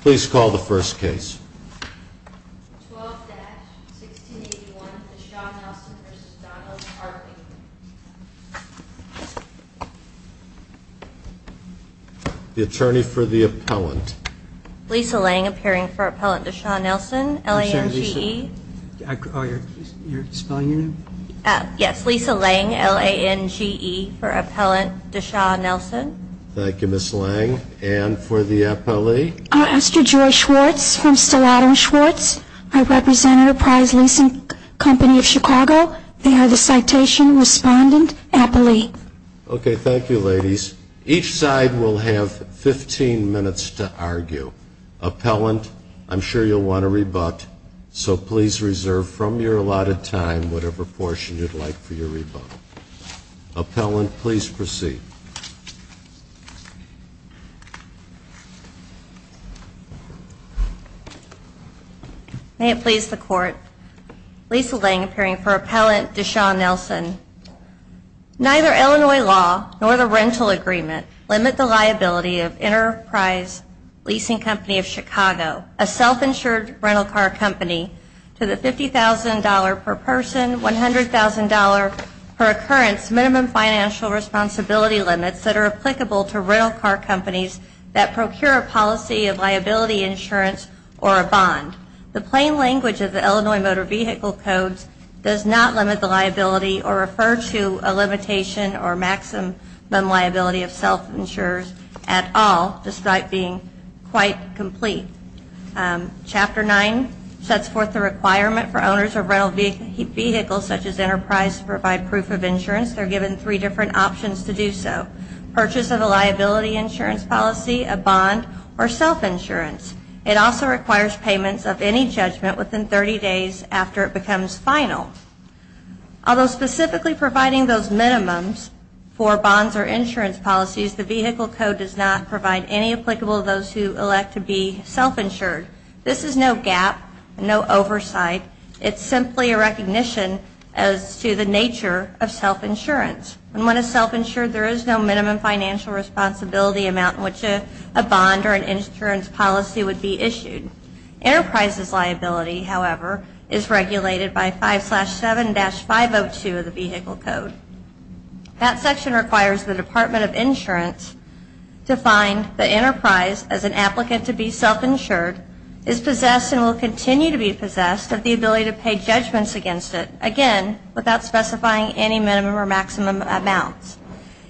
please call the first case the attorney for the appellant Lisa Lange appearing for appellant Deshaun Nelson LA and GE yes Lisa Lange LA and GE for appellant Deshaun Nelson. Thank you Ms. Lange. And for the appellate? I'm Esther Joy Schwartz from Stalatum Schwartz. I represent Enterprise Leasing Company of Chicago. They are the citation respondent appellate. Okay thank you ladies. Each side will have 15 minutes to argue. Appellant I'm sure you'll want to rebut so please reserve from your allotted time whatever portion you'd like for your rebut. Appellant please proceed. May it please the court. Lisa Lange appearing for appellant Deshaun Nelson. Neither Illinois law nor the rental agreement limit the liability of Enterprise Leasing Company of Chicago a self-insured rental car company to the $50,000 per person $100,000 per occurrence minimum financial responsibility limits that are applicable to rental car companies that procure a policy of liability insurance or a bond. The plain language of the Illinois Motor Vehicle Codes does not limit the liability or refer to a limitation or maximum liability of self insurers at all despite being quite complete. Chapter 9 sets forth the requirement for owners of rental vehicles such as Enterprise to provide proof of insurance. They're given three different options to do so. Purchase of a liability insurance policy, a bond or self insurance. It also requires payments of any judgment within 30 days after it becomes final. Although specifically providing those minimums for bonds or insurance policies the vehicle code does not provide any applicable those who elect to be self-insured. This is no gap, no oversight. It's simply a recognition as to the nature of self insurance. And when a self insured there is no minimum financial responsibility amount which a bond or an insurance policy would be issued. Enterprises liability however is regulated by 5-7-502 of the vehicle code. That section requires the Department of Insurance to find the enterprise as an applicant to be self insured is possessed and will continue to be possessed of the ability to pay judgments against it. Again without specifying any minimum or maximum amounts.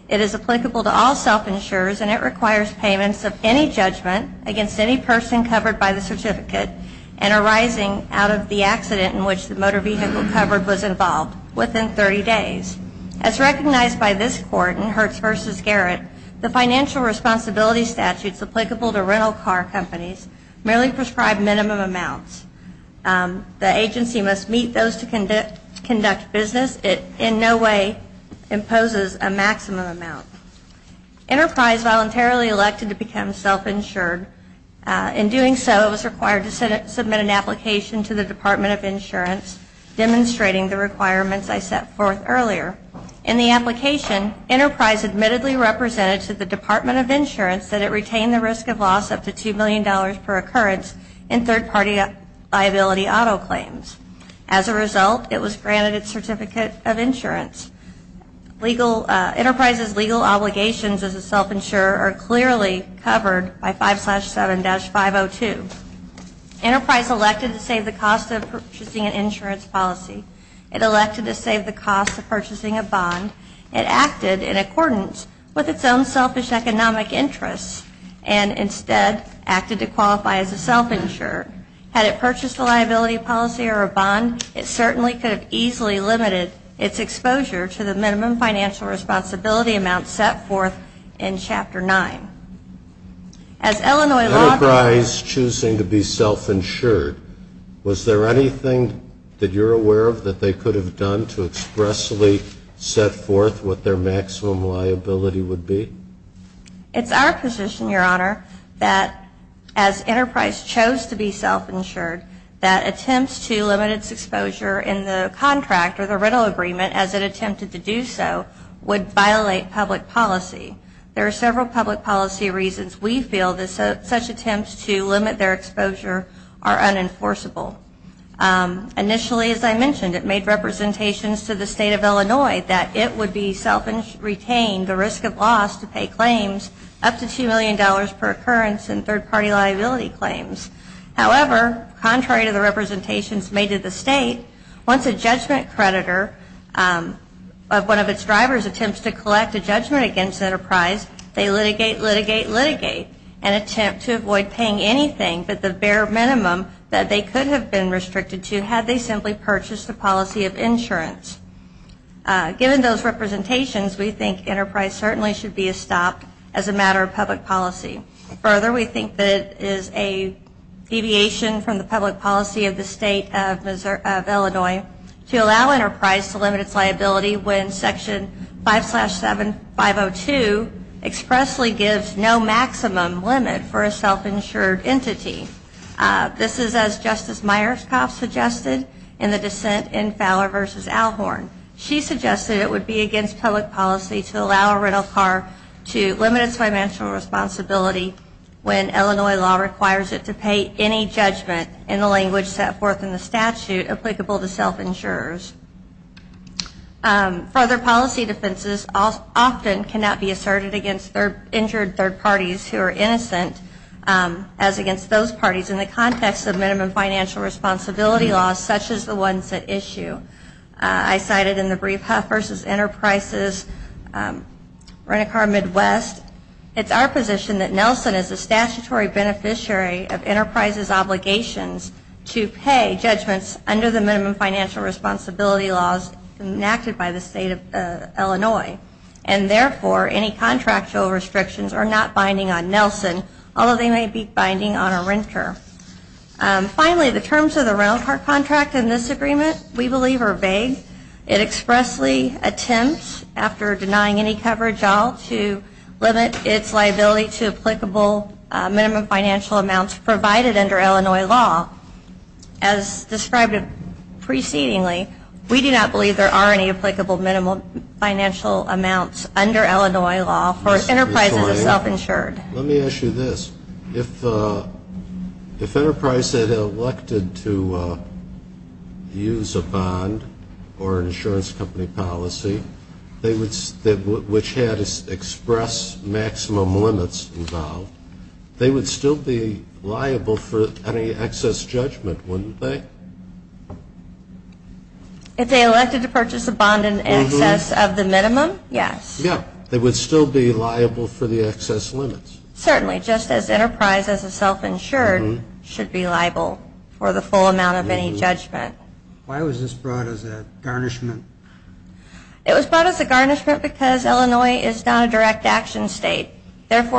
It is applicable to all self insurers and it requires payments of any judgment against any person covered by the certificate and arising out of the accident in which the motor vehicle covered was involved within 30 days. As recognized by this court in Hertz v. Garrett the financial responsibility statutes applicable to rental car companies merely prescribe minimum amounts. The agency must meet those to conduct business. It in no way imposes a maximum amount. Enterprise voluntarily elected to become self insured. In doing so it was required to submit an application to the Department of Insurance demonstrating the requirements I set forth earlier. In the application enterprise admittedly represented to the Department of Insurance that it retain the risk of loss up to $2 million per occurrence in third party liability auto claims. As a result it was granted a certificate of insurance. Legal enterprises legal obligations as a self insurer are clearly covered by 5-7-502. Enterprise elected to save the cost of purchasing an insurance policy. It elected to save the cost of purchasing a bond. It acted in accordance with its own selfish economic interests and instead acted to qualify as a self insurer. Had it purchased a liability policy or a bond it certainly could have easily limited its exposure to the minimum financial responsibility amount set forth in Chapter 9. As Illinois law... Enterprise choosing to be self insured was there anything that you're aware of that they could have done to expressly set forth what their maximum liability would be? It's our position your honor that as enterprise chose to be self insured that attempts to limit its exposure in the contract or the public policy. There are several public policy reasons we feel that such attempts to limit their exposure are unenforceable. Initially as I mentioned it made representations to the state of Illinois that it would be self insured, retain the risk of loss to pay claims up to $2 million per occurrence in third party liability claims. However, contrary to the representations made to the state, once a judgment creditor of one of its drivers attempts to collect a judgment against enterprise, they litigate, litigate, litigate and attempt to avoid paying anything but the bare minimum that they could have been restricted to had they simply purchased a policy of insurance. Given those representations we think enterprise certainly should be stopped as a matter of public policy. Further, we think that it is a deviation from the public policy of the state of Illinois to allow enterprise to limit its liability when section 5-7-502 expressly gives no maximum limit for a self insured entity. This is as Justice Myerscough suggested in the dissent in Fowler v. Alhorn. She suggested it would be against public policy to allow a rental car to limit its financial responsibility when Illinois law requires it to pay any judgment in the language set forth in the statute applicable to self insurers. Further, policy defenses often cannot be asserted against injured third parties who are innocent as against those parties in the context of minimum financial responsibility laws such as the ones at issue. I cited in the brief Huff v. Enterprises Rent-a-Car Midwest, it's our position that Nelson is a statutory beneficiary of enterprise's obligations to pay judgments under the minimum financial responsibility laws enacted by the state of Illinois. And therefore, any contractual restrictions are not binding on Nelson, although they may be binding on a renter. Finally, the terms of the rental car contract in this agreement we believe are vague. It expressly attempts, after denying any coverage at all, to limit its liability to applicable minimum financial amounts provided under Illinois law. As described precedingly, we do not believe there are any applicable minimum financial amounts under Illinois law for enterprises that are self-insured. Let me ask you this. If enterprise had elected to use a bond or an insurance company policy, which had expressed maximum liability for maximum limits involved, they would still be liable for any excess judgment, wouldn't they? If they elected to purchase a bond in excess of the minimum, yes. Yeah, they would still be liable for the excess limits. Certainly, just as enterprise as a self-insured should be liable for the full amount of any judgment. Why was this brought as a garnishment? It is because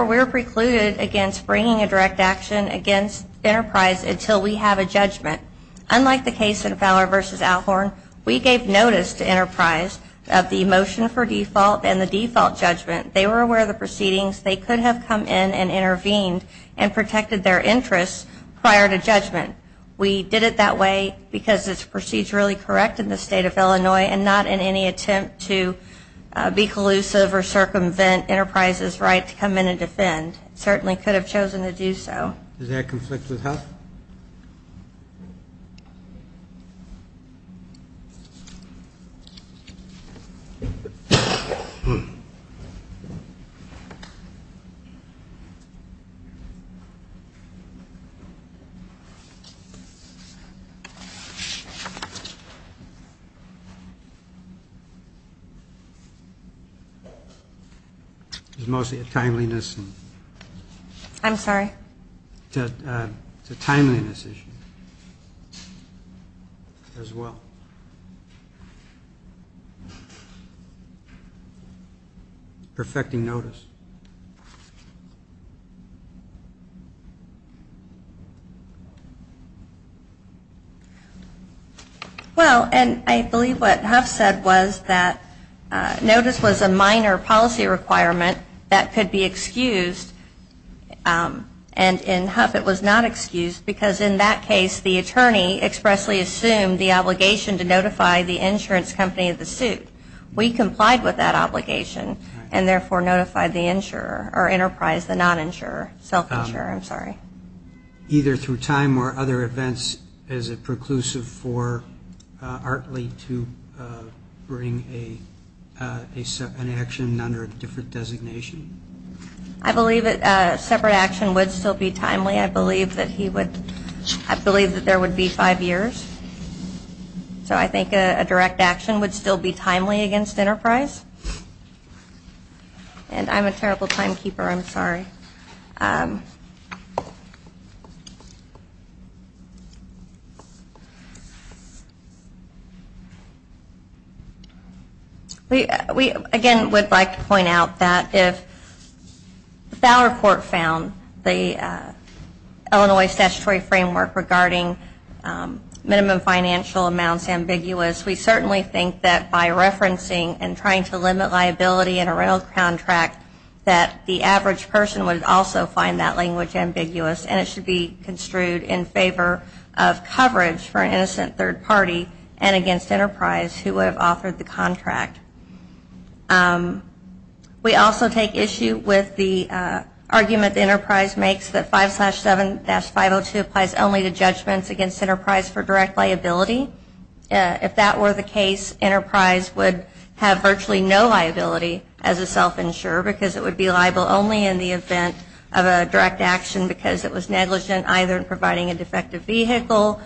we are precluded against bringing a direct action against enterprise until we have a judgment. Unlike the case in Fowler v. Alhorn, we gave notice to enterprise of the motion for default and the default judgment. They were aware of the proceedings. They could have come in and intervened and protected their interests prior to judgment. We did it that way because it's procedurally correct in the state of Illinois and not in any attempt to be collusive or circumvent enterprise's right to come in and defend. It certainly could have chosen to do so. Does that conflict with health? It's mostly a timeliness issue. I'm sorry? It's a timeliness issue as well. Perfecting notice. Well, and I believe what Huff said was that notice was a minor policy requirement that could be excused and in Huff it was not excused because in that case the attorney expressly assumed the obligation to notify the insurance company of the suit. We complied with that obligation and therefore notified the insurer or enterprise, the non-insurer, self-insurer, I'm sorry. Either through time or other events is it preclusive for Artley to bring an action under a different designation? I believe that separate action would still be timely. I believe that there would be five years. So I think a direct action would still be timely against enterprise. And I'm a terrible timekeeper, I'm sorry. We, again, would like to point out that if the Fowler Court found the Illinois statutory framework regarding minimum financial amounts ambiguous, we certainly think that by referencing and trying to limit liability in a rental contract that the average person would also find that language ambiguous and it should be construed in favor of coverage for an innocent third party and against enterprise who would have authored the contract. We also take issue with the argument that enterprise makes that 5-7-502 applies only to judgments against enterprise for direct liability. If that were the case, enterprise would have virtually no liability as a self-insurer because it would be liable only in the event of a direct action because it was negligent either in providing a defective vehicle,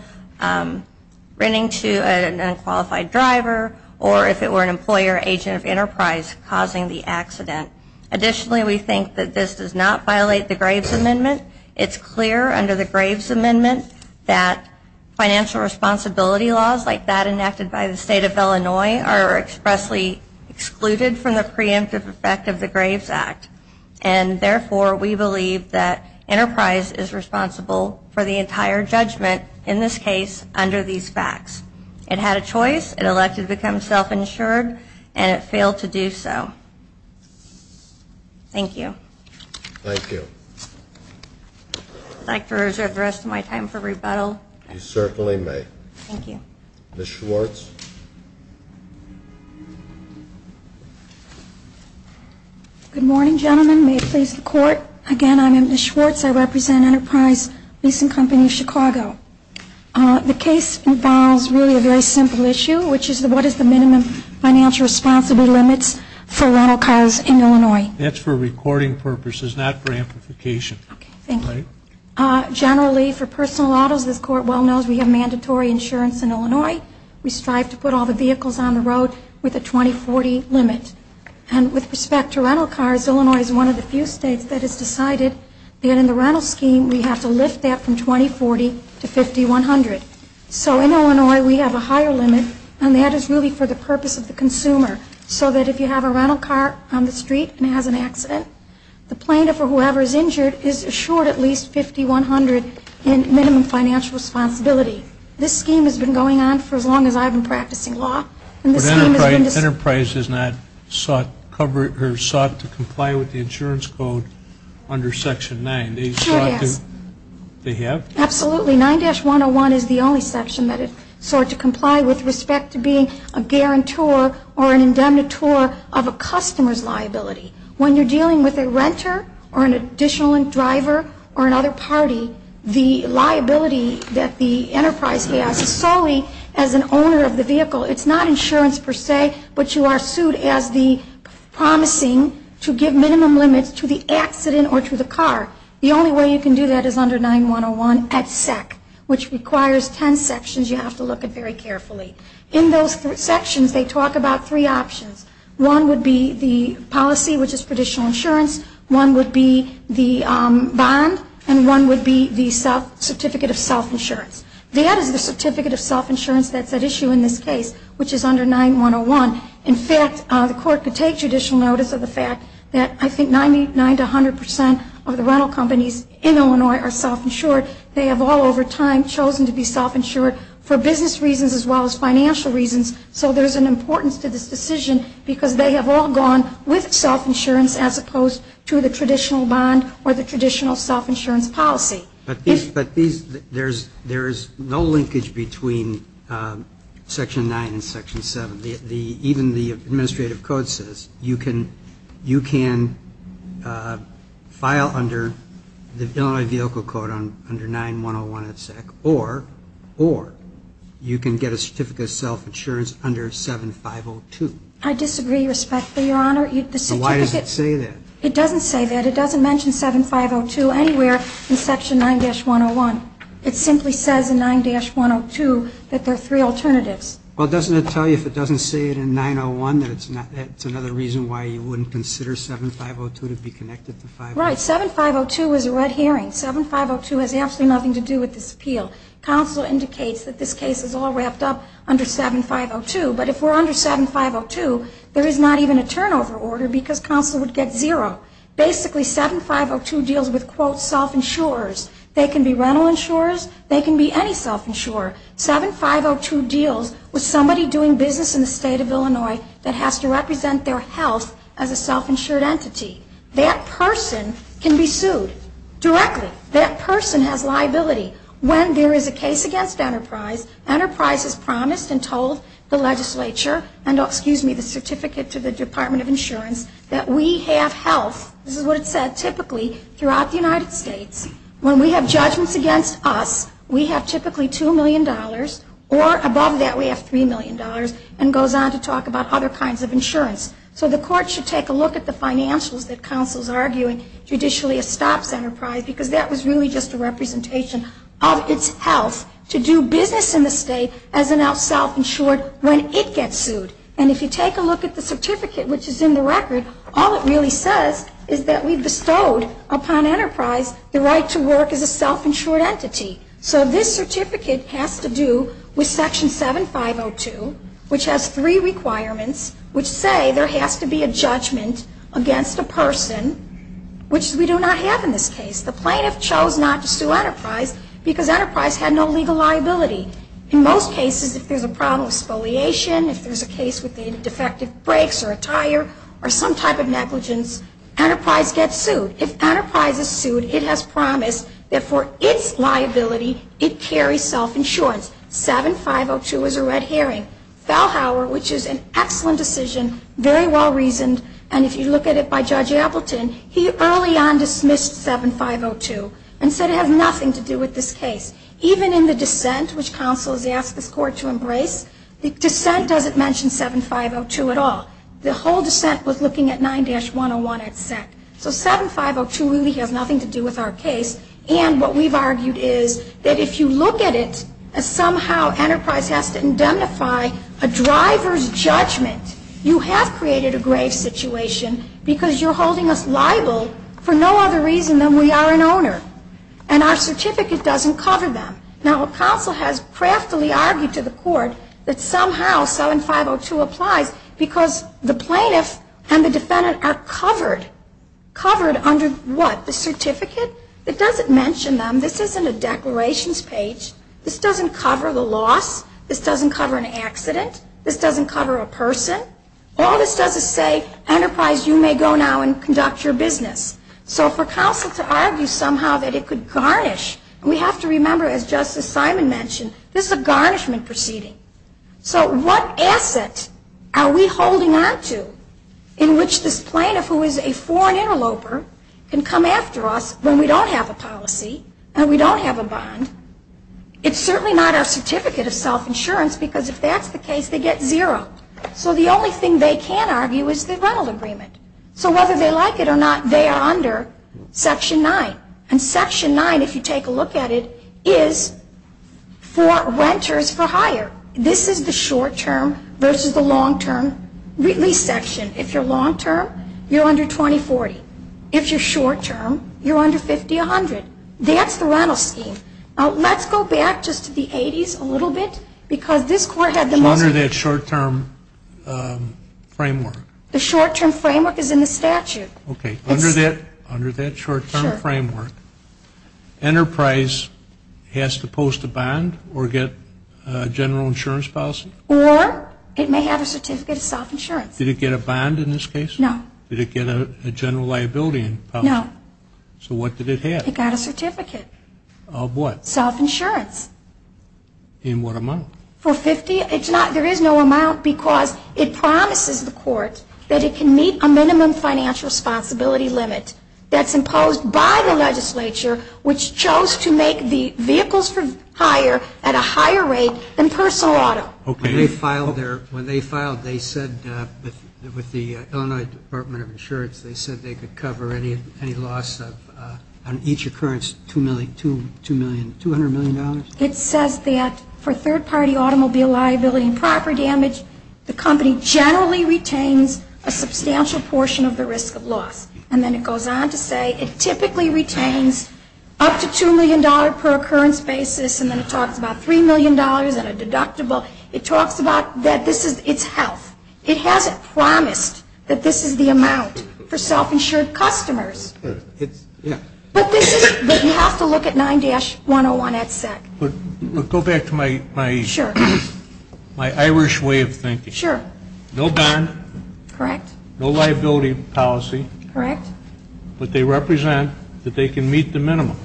renting to an unqualified driver, or if it were an employer agent of enterprise causing the accident. Additionally, we think that this does not violate the Graves Amendment. It's clear under the Graves Amendment that financial responsibility laws like that enacted by the State of Illinois are expressly excluded from the preemptive effect of the Graves Act and therefore we believe that enterprise is responsible for the entire judgment in this case under these facts. It had a choice. It elected to become self-insured and it failed to do so. Thank you. Thank you. I'd like to reserve the rest of my time for rebuttal. You certainly may. Thank you. Ms. Schwartz. Good morning, gentlemen. May it please the Court. Again, I'm Ms. Schwartz. I represent Enterprise Leasing Company of Chicago. The case involves really a very simple issue, which is what is the minimum financial responsibility limits for rental cars in Illinois? That's for recording purposes, not for amplification. Okay, thank you. Generally for personal autos, this Court well knows we have mandatory insurance in Illinois. We strive to put all the vehicles on the road with a 20-40 limit. And with respect to rental cars, Illinois is one of the few states that has decided that in the rental scheme we have to lift that from 20-40 to 50-100. So in Illinois we have a higher limit and that is really for the purpose of the consumer so that if you have a rental car on the street and it has an accident, the plaintiff or whoever is injured is assured at least 50-100 in minimum financial responsibility. This scheme has been going on for as long as I've been practicing law. But Enterprise has not sought to comply with the insurance code under Section 9. Sure, yes. They have? Absolutely. 9-101 is the only section that has sought to comply with respect to being a guarantor or an indemnitor of a customer's liability. When you're dealing with a renter or an additional driver or another party, the liability that the Enterprise has is solely as an owner of the vehicle. It's not insurance per se, but you are sued as the promising to give minimum limits to the accident or to the car. The only way you can do that is under 9-101 at SEC, which requires 10 sections you have to look at very carefully. In those sections they talk about three options. One would be the policy, which is traditional insurance. One would be the bond, and one would be the certificate of self-insurance. That is the certificate of self-insurance that's at issue in this case, which is under 9-101. In fact, the court could take judicial notice of the fact that I think 99-100 percent of the rental companies in Illinois are self-insured. They have all over time chosen to be self-insured for business reasons as well as financial reasons. So there's an importance to this as opposed to the traditional bond or the traditional self-insurance policy. But these, there's no linkage between Section 9 and Section 7. Even the administrative code says you can file under the Illinois Vehicle Code under 9-101 at SEC, or you can get a certificate of self-insurance under 7-502. I disagree respectfully, Your Honor. Why does it say that? It doesn't say that. It doesn't mention 7-502 anywhere in Section 9-101. It simply says in 9-102 that there are three alternatives. Well, doesn't it tell you if it doesn't say it in 9-01 that it's another reason why you wouldn't consider 7-502 to be connected to 5-01? Right. 7-502 is a red herring. 7-502 has absolutely nothing to do with this appeal. Counsel indicates that this case is all wrapped up under 7-502. But if we're under 7-502, there is not even a turnover order because counsel would get zero. Basically 7-502 deals with, quote, self-insurers. They can be rental insurers. They can be any self-insurer. 7-502 deals with somebody doing business in the state of Illinois that has to represent their health as a self-insured entity. That person can be sued directly. That person has liability. When there is a case against Enterprise, Enterprise has promised and told the legislature and, excuse me, the Certificate to the Department of Insurance that we have health, this is what it said, typically throughout the United States. When we have judgments against us, we have typically $2 million or above that we have $3 million and goes on to talk about other kinds of insurance. So the court should take a look at the financials that counsel is arguing judicially estops Enterprise because that was really just a representation of its health to do business in the state as a self-insured when it gets sued. And if you take a look at the certificate which is in the record, all it really says is that we've bestowed upon Enterprise the right to work as a self-insured entity. So this certificate has to do with Section 7-502, which has three requirements which say there has to be a judgment against a person, which we do not have in this case. The plaintiff chose not to sue Enterprise because Enterprise had no legal liability. In most cases, if there's a problem with spoliation, if there's a case with defective brakes or a tire or some type of negligence, Enterprise gets sued. If Enterprise is sued, it has promised that for its liability, it carries self-insurance. 7-502 is a red herring. Fallhauer, which is an excellent decision, very well reasoned, and if you look at it by Judge Appleton, he early on dismissed 7-502 and said it has nothing to do with this case. Even in the dissent, which counsel has asked this Court to embrace, the dissent doesn't mention 7-502 at all. The whole dissent was looking at 9-101 at sec. So 7-502 really has nothing to do with our case. And what we've argued is that if you look at it as somehow Enterprise has to indemnify a driver's judgment, you have created a grave situation because you're holding us liable for no other reason than we are an owner. And our certificate doesn't cover them. Now, counsel has craftily argued to the Court that somehow 7-502 applies because the plaintiff and the defendant are covered. Covered under what? The certificate? It doesn't mention them. This isn't a declarations page. This doesn't cover the loss. This doesn't cover an accident. This doesn't cover a person. All this does is say, Enterprise, you may go now and conduct your business. So for counsel to argue somehow that it could garnish, and we have to remember, as Justice Simon mentioned, this is a garnishment proceeding. So what asset are we holding on to in which this plaintiff, who is a foreign interloper, can come after us when we don't have a policy and we don't have a bond? It's certainly not our certificate of self-insurance because if that's the case, they get zero. So the only thing they can argue is the rental agreement. So whether they like it or not, they are under Section 9. And Section 9, if you take a look at it, is for renters for hire. This is the short term versus the long term lease section. If you're long term, you're under 20-40. If you're short term, you're under 50-100. That's the rental scheme. Now, let's go back just to the 80s a little bit because this Court had the most... So under that short term framework... The short term framework is in the statute. Okay. Under that short term framework, Enterprise has to post a bond or get a general insurance policy? Or it may have a certificate of self-insurance. Did it get a bond in this case? No. Did it get a general liability policy? No. So what did it have? It got a certificate. Of what? Self-insurance. In what amount? For 50. It's not... There is no amount because it promises the Court that it can meet a minimum financial responsibility limit that's imposed by the legislature, which chose to make the vehicles for hire at a higher rate than personal auto. Okay. When they filed, they said with the Illinois Department of Insurance, they said they could cover any loss on each occurrence, $200 million? It says that for third-party automobile liability and property damage, the company generally retains a substantial portion of the risk of loss. And then it goes on to say it typically retains up to $2 million per occurrence basis. And then it talks about $3 million and a deductible. It talks about that this is its health. It hasn't promised that this is the amount for self-insured customers. But you have to look at 9-101 at SEC. Go back to my Irish way of thinking. Sure. No bond. Correct. No liability policy. Correct. But they represent that they can meet the minimum.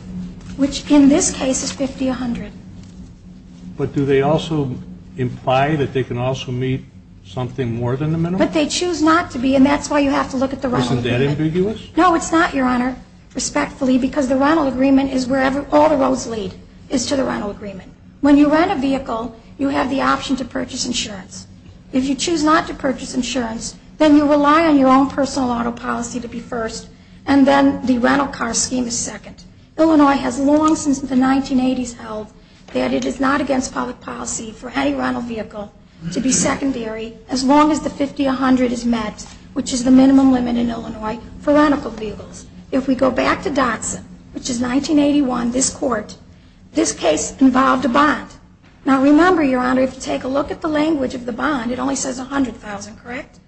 Which in this case is 50-100. But do they also imply that they can also meet something more than the minimum? But they choose not to be, and that's why you have to look at the rental agreement. Isn't that ambiguous? No, it's not, Your Honor, respectfully, because the rental agreement is wherever all the roads lead is to the rental agreement. When you rent a vehicle, you have the option to purchase insurance. If you choose not to purchase insurance, then you rely on your own personal auto policy to be first, and then the rental car scheme is second. Illinois has long since the 1980s held that it is not against public policy for any rental vehicle to be secondary as long as the 50-100 is met, which is the minimum limit in Illinois for rental vehicles. If we go back to Dotson, which is 1981, this court, this case involved a bond. Now remember, Your Honor, if you take a look at the language of the bond, it only says 100,000, correct?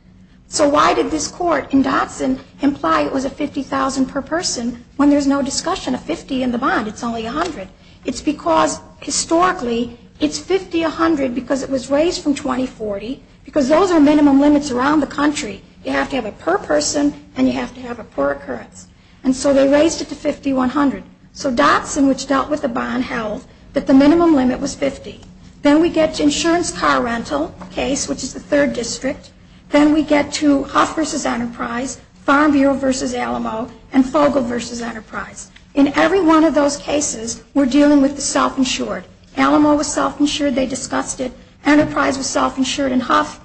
So why did this court in Dotson imply it was a 50,000 per person when there's no discussion of 50 in the bond? It's only 100. It's because, historically, it's 50-100 because it was raised from 20-40, because those are minimum limits around the country. You have to have it per person, and you have to have it per occurrence. And so they raised it to 50-100. So Dotson, which dealt with the bond, held that the minimum limit was 50. Then we get to insurance car rental case, which is the third district. Then we get to Huff v. Enterprise, Farm Bureau v. Alamo, and Fogle v. Enterprise. In every one of those cases, we're dealing with the self-insured. Alamo was self-insured. They discussed it. Enterprise was self-insured in Huff.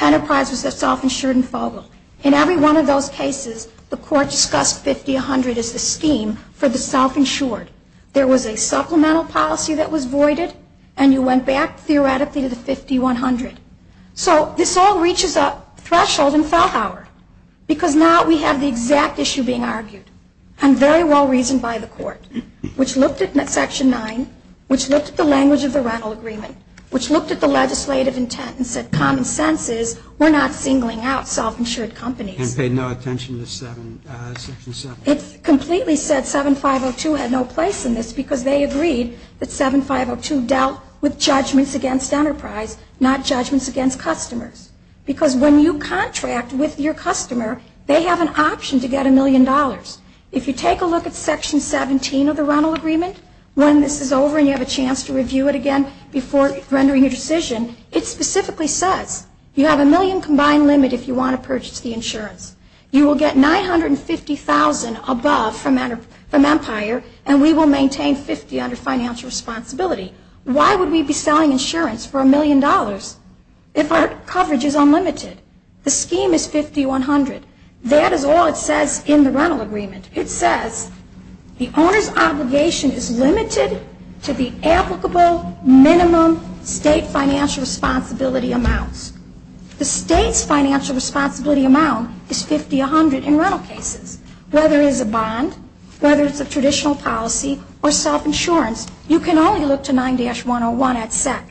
Enterprise was self-insured in Fogle. In every one of those cases, the court discussed 50-100 as the scheme for the self-insured. There was a supplemental policy that was voided, and you went back, theoretically, to the 50-100. So this all reaches a threshold in Fellhauer, because now we have the exact issue being argued and very well reasoned by the court, which looked at Section 9, which looked at the language of the rental agreement, which looked at the legislative intent and said common sense is we're not singling out self-insured companies. And paid no attention to Section 7. It completely said 7502 had no place in this, because they agreed that 7502 dealt with judgments against Enterprise, not judgments against customers. Because when you contract with your customer, they have an option to get a million dollars. If you take a look at Section 17 of the rental agreement, when this is over and you have a chance to review it again before rendering your decision, it specifically says you have a million combined limit if you want to purchase the insurance. You will get $950,000 above from Empire, and we will maintain 50 under financial responsibility. Why would we be selling insurance for a million dollars if our coverage is unlimited? The scheme is 5100. That is all it says in the rental agreement. It says the owner's obligation is limited to the applicable minimum state financial responsibility amounts. The state's financial responsibility amount is 50-100 in rental cases. Whether it's a bond, whether it's a traditional policy, or self-insurance, you can only look to 9-101 at SEC.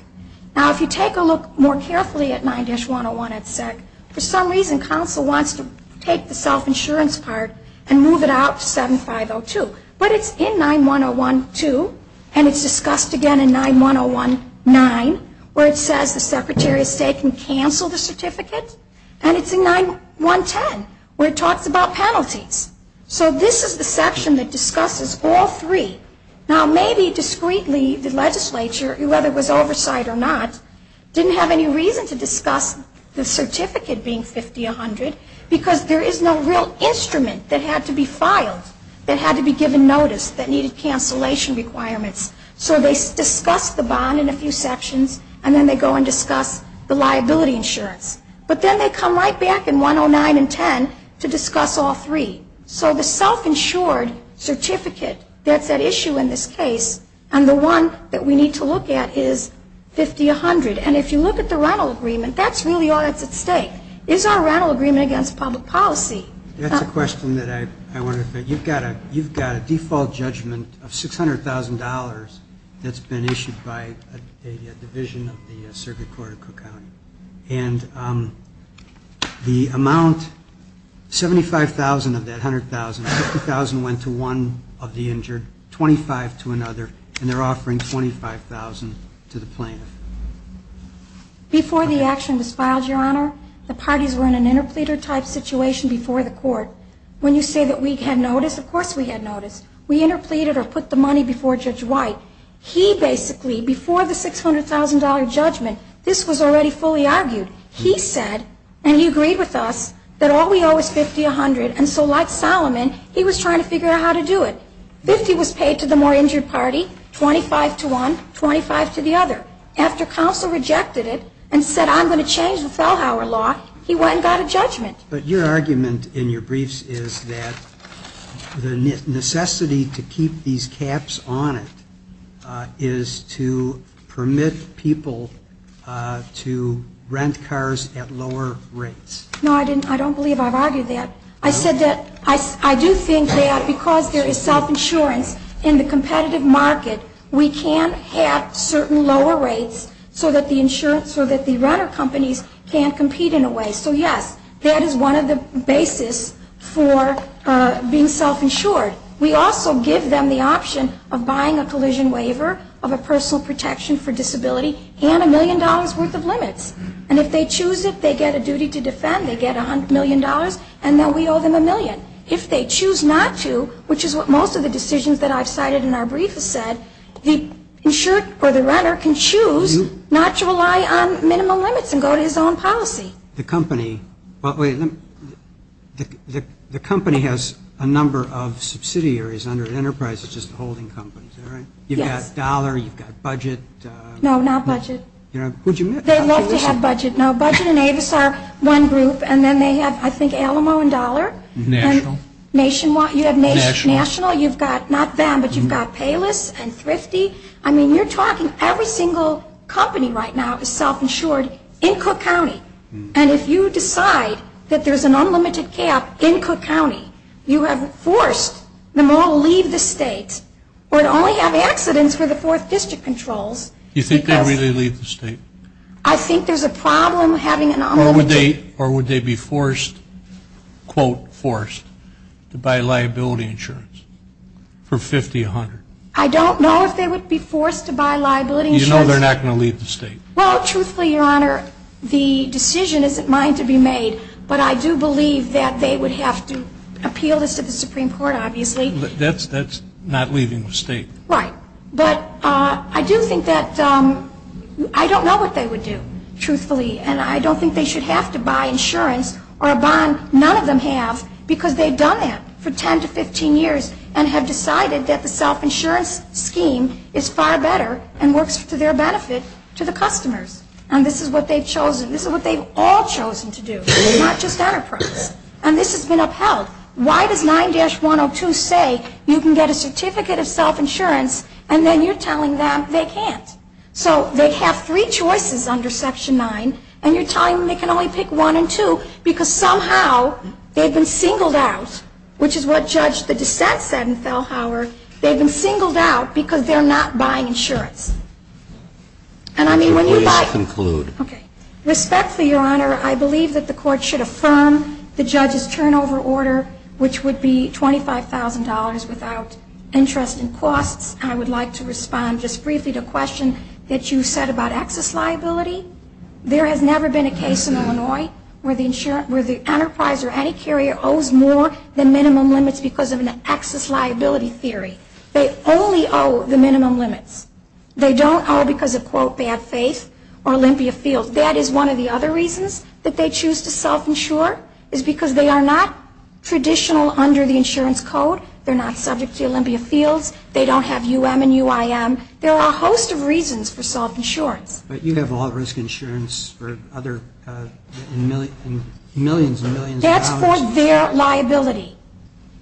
Now, if you take a look more carefully at 9-101 at SEC, for some reason counsel wants to take the self-insurance part and move it out to 7502. But it's in 9-101-2, and it's discussed again in 9-101-9, where it says the Secretary of State can cancel the certificate. And it's in 9-110, where it talks about penalties. So this is the section that discusses all three. Now, maybe discreetly the legislature, whether it was oversight or not, didn't have any reason to discuss the certificate being 50-100, because there is no real instrument that had to be filed, that had to be given notice, that needed cancellation requirements. So they discuss the bond in a few sections, and then they go and discuss the liability insurance. But then they come right back in 109 and 10 to discuss all three. So the self-insured certificate that's at issue in this case, and the one that we need to look at is 50-100. And if you look at the rental agreement, that's really all that's at stake. Is our rental agreement against public policy? That's a question that I wanted to think. You've got a default judgment of $600,000 that's been issued by a division of the Circuit Court of Cook County. And the amount, $75,000 of that $100,000, $50,000 went to one of the injured, $25,000 to another, and they're offering $25,000 to the plaintiff. Before the action was filed, Your Honor, the parties were in an interpleader-type situation before the court. When you say that we had notice, of course we had notice. We interpleaded or put the money before Judge White. He basically, before the $600,000 judgment, this was already fully argued. He said, and he agreed with us, that all we owe is 50-100. And so like Solomon, he was trying to figure out how to do it. 50 was paid to the more injured party, 25 to one, 25 to the other. After counsel rejected it and said, I'm going to change the Fellhauer law, he went and got a judgment. But your argument in your briefs is that the necessity to keep these caps on it is to permit people to rent cars at lower rates. No, I don't believe I've argued that. I said that I do think that because there is self-insurance in the competitive market, we can have certain lower rates so that the renter companies can't compete in a way. So yes, that is one of the basis for being self-insured. We also give them the option of buying a collision waiver of a personal protection for disability and a million dollars worth of limits. And if they choose it, they get a duty to defend. They get $100 million, and then we owe them a million. If they choose not to, which is what most of the decisions that I've cited in our brief have said, the insured or the renter can choose not to rely on minimum limits and go to his own policy. The company has a number of subsidiaries under Enterprise. It's just the holding companies. Is that right? Yes. You've got Dollar. You've got Budget. No, not Budget. They love to have Budget. No, Budget and Avis are one group. And then they have, I think, Alamo and Dollar. National. You have National. You've got not them, but you've got Payless and Thrifty. I mean, you're talking every single company right now is self-insured in Cook County. And if you decide that there's an unlimited cap in Cook County, you have forced them all to leave the state or to only have accidents for the fourth district controls. You think they'll really leave the state? I think there's a problem having an unlimited cap. Or would they be forced, quote, forced, to buy liability insurance for 50, 100? I don't know if they would be forced to buy liability insurance. You know they're not going to leave the state. Well, truthfully, Your Honor, the decision isn't mine to be made, but I do believe that they would have to appeal this to the Supreme Court, obviously. That's not leaving the state. Right. But I do think that I don't know what they would do, truthfully, and I don't think they should have to buy insurance or a bond. None of them have because they've done that for 10 to 15 years and have decided that the self-insurance scheme is far better and works to their benefit to the customers. And this is what they've chosen. This is what they've all chosen to do, not just Enterprise. And this has been upheld. Why does 9-102 say you can get a certificate of self-insurance and then you're telling them they can't? So they have three choices under Section 9, and you're telling them they can only pick one and two because somehow they've been singled out, which is what Judge the dissent said in Fellhauer. They've been singled out because they're not buying insurance. And I mean, when you buy- Could you please conclude? Okay. Respectfully, Your Honor, I believe that the court should affirm the judge's turnover order, which would be $25,000 without interest and costs. I would like to respond just briefly to a question that you said about excess liability. There has never been a case in Illinois where the enterprise or any carrier owes more than minimum limits because of an excess liability theory. They only owe the minimum limits. They don't owe because of, quote, bad faith or Olympia Fields. That is one of the other reasons that they choose to self-insure, is because they are not traditional under the insurance code. They're not subject to Olympia Fields. They don't have UM and UIM. There are a host of reasons for self-insurance. But you have a lot of risk insurance for other millions and millions of dollars. For their liability.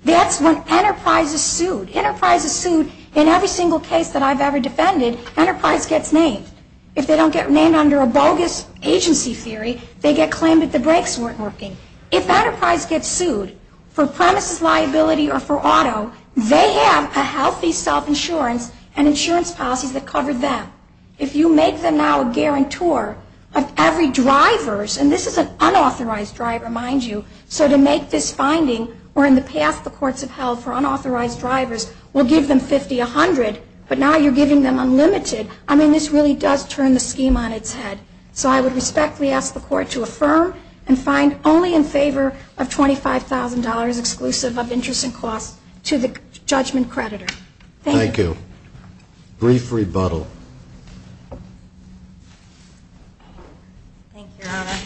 That's when enterprise is sued. Enterprise is sued in every single case that I've ever defended, enterprise gets named. If they don't get named under a bogus agency theory, they get claimed that the brakes weren't working. If enterprise gets sued for premises liability or for auto, they have a healthy self-insurance and insurance policies that cover them. If you make them now a guarantor of every driver's, and this is an unauthorized driver, mind you, so to make this finding where in the past the courts have held for unauthorized drivers, we'll give them 50, 100, but now you're giving them unlimited. I mean, this really does turn the scheme on its head. So I would respectfully ask the court to affirm and find only in favor of $25,000 exclusive of interest and costs to the judgment creditor. Thank you. Thank you. Brief rebuttal. Thank you, Your Honor.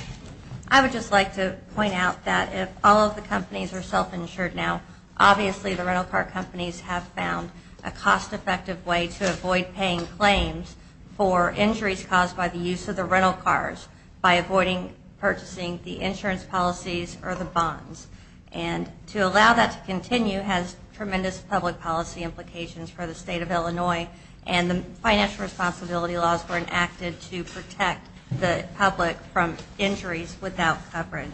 I would just like to point out that if all of the companies are self-insured now, obviously the rental car companies have found a cost-effective way to avoid paying claims for injuries caused by the use of the rental cars by avoiding purchasing the insurance policies or the bonds. And to allow that to continue has tremendous public policy implications for the State of Illinois and the financial responsibility laws were enacted to protect the public from injuries without coverage.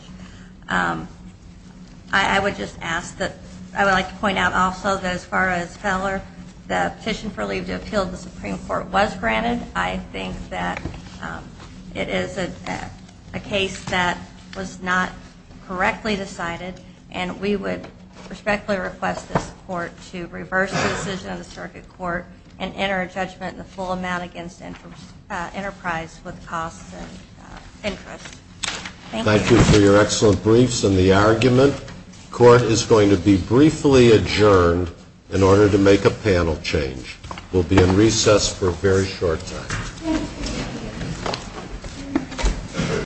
I would just ask that I would like to point out also that as far as Feller, the petition for leave to appeal to the Supreme Court was granted. I think that it is a case that was not correctly decided, and we would respectfully request this court to reverse the decision of the circuit court and enter a judgment in the full amount against Enterprise with costs and interest. Thank you. Thank you for your excellent briefs and the argument. Court is going to be briefly adjourned in order to make a panel change. We'll be in recess for a very short time.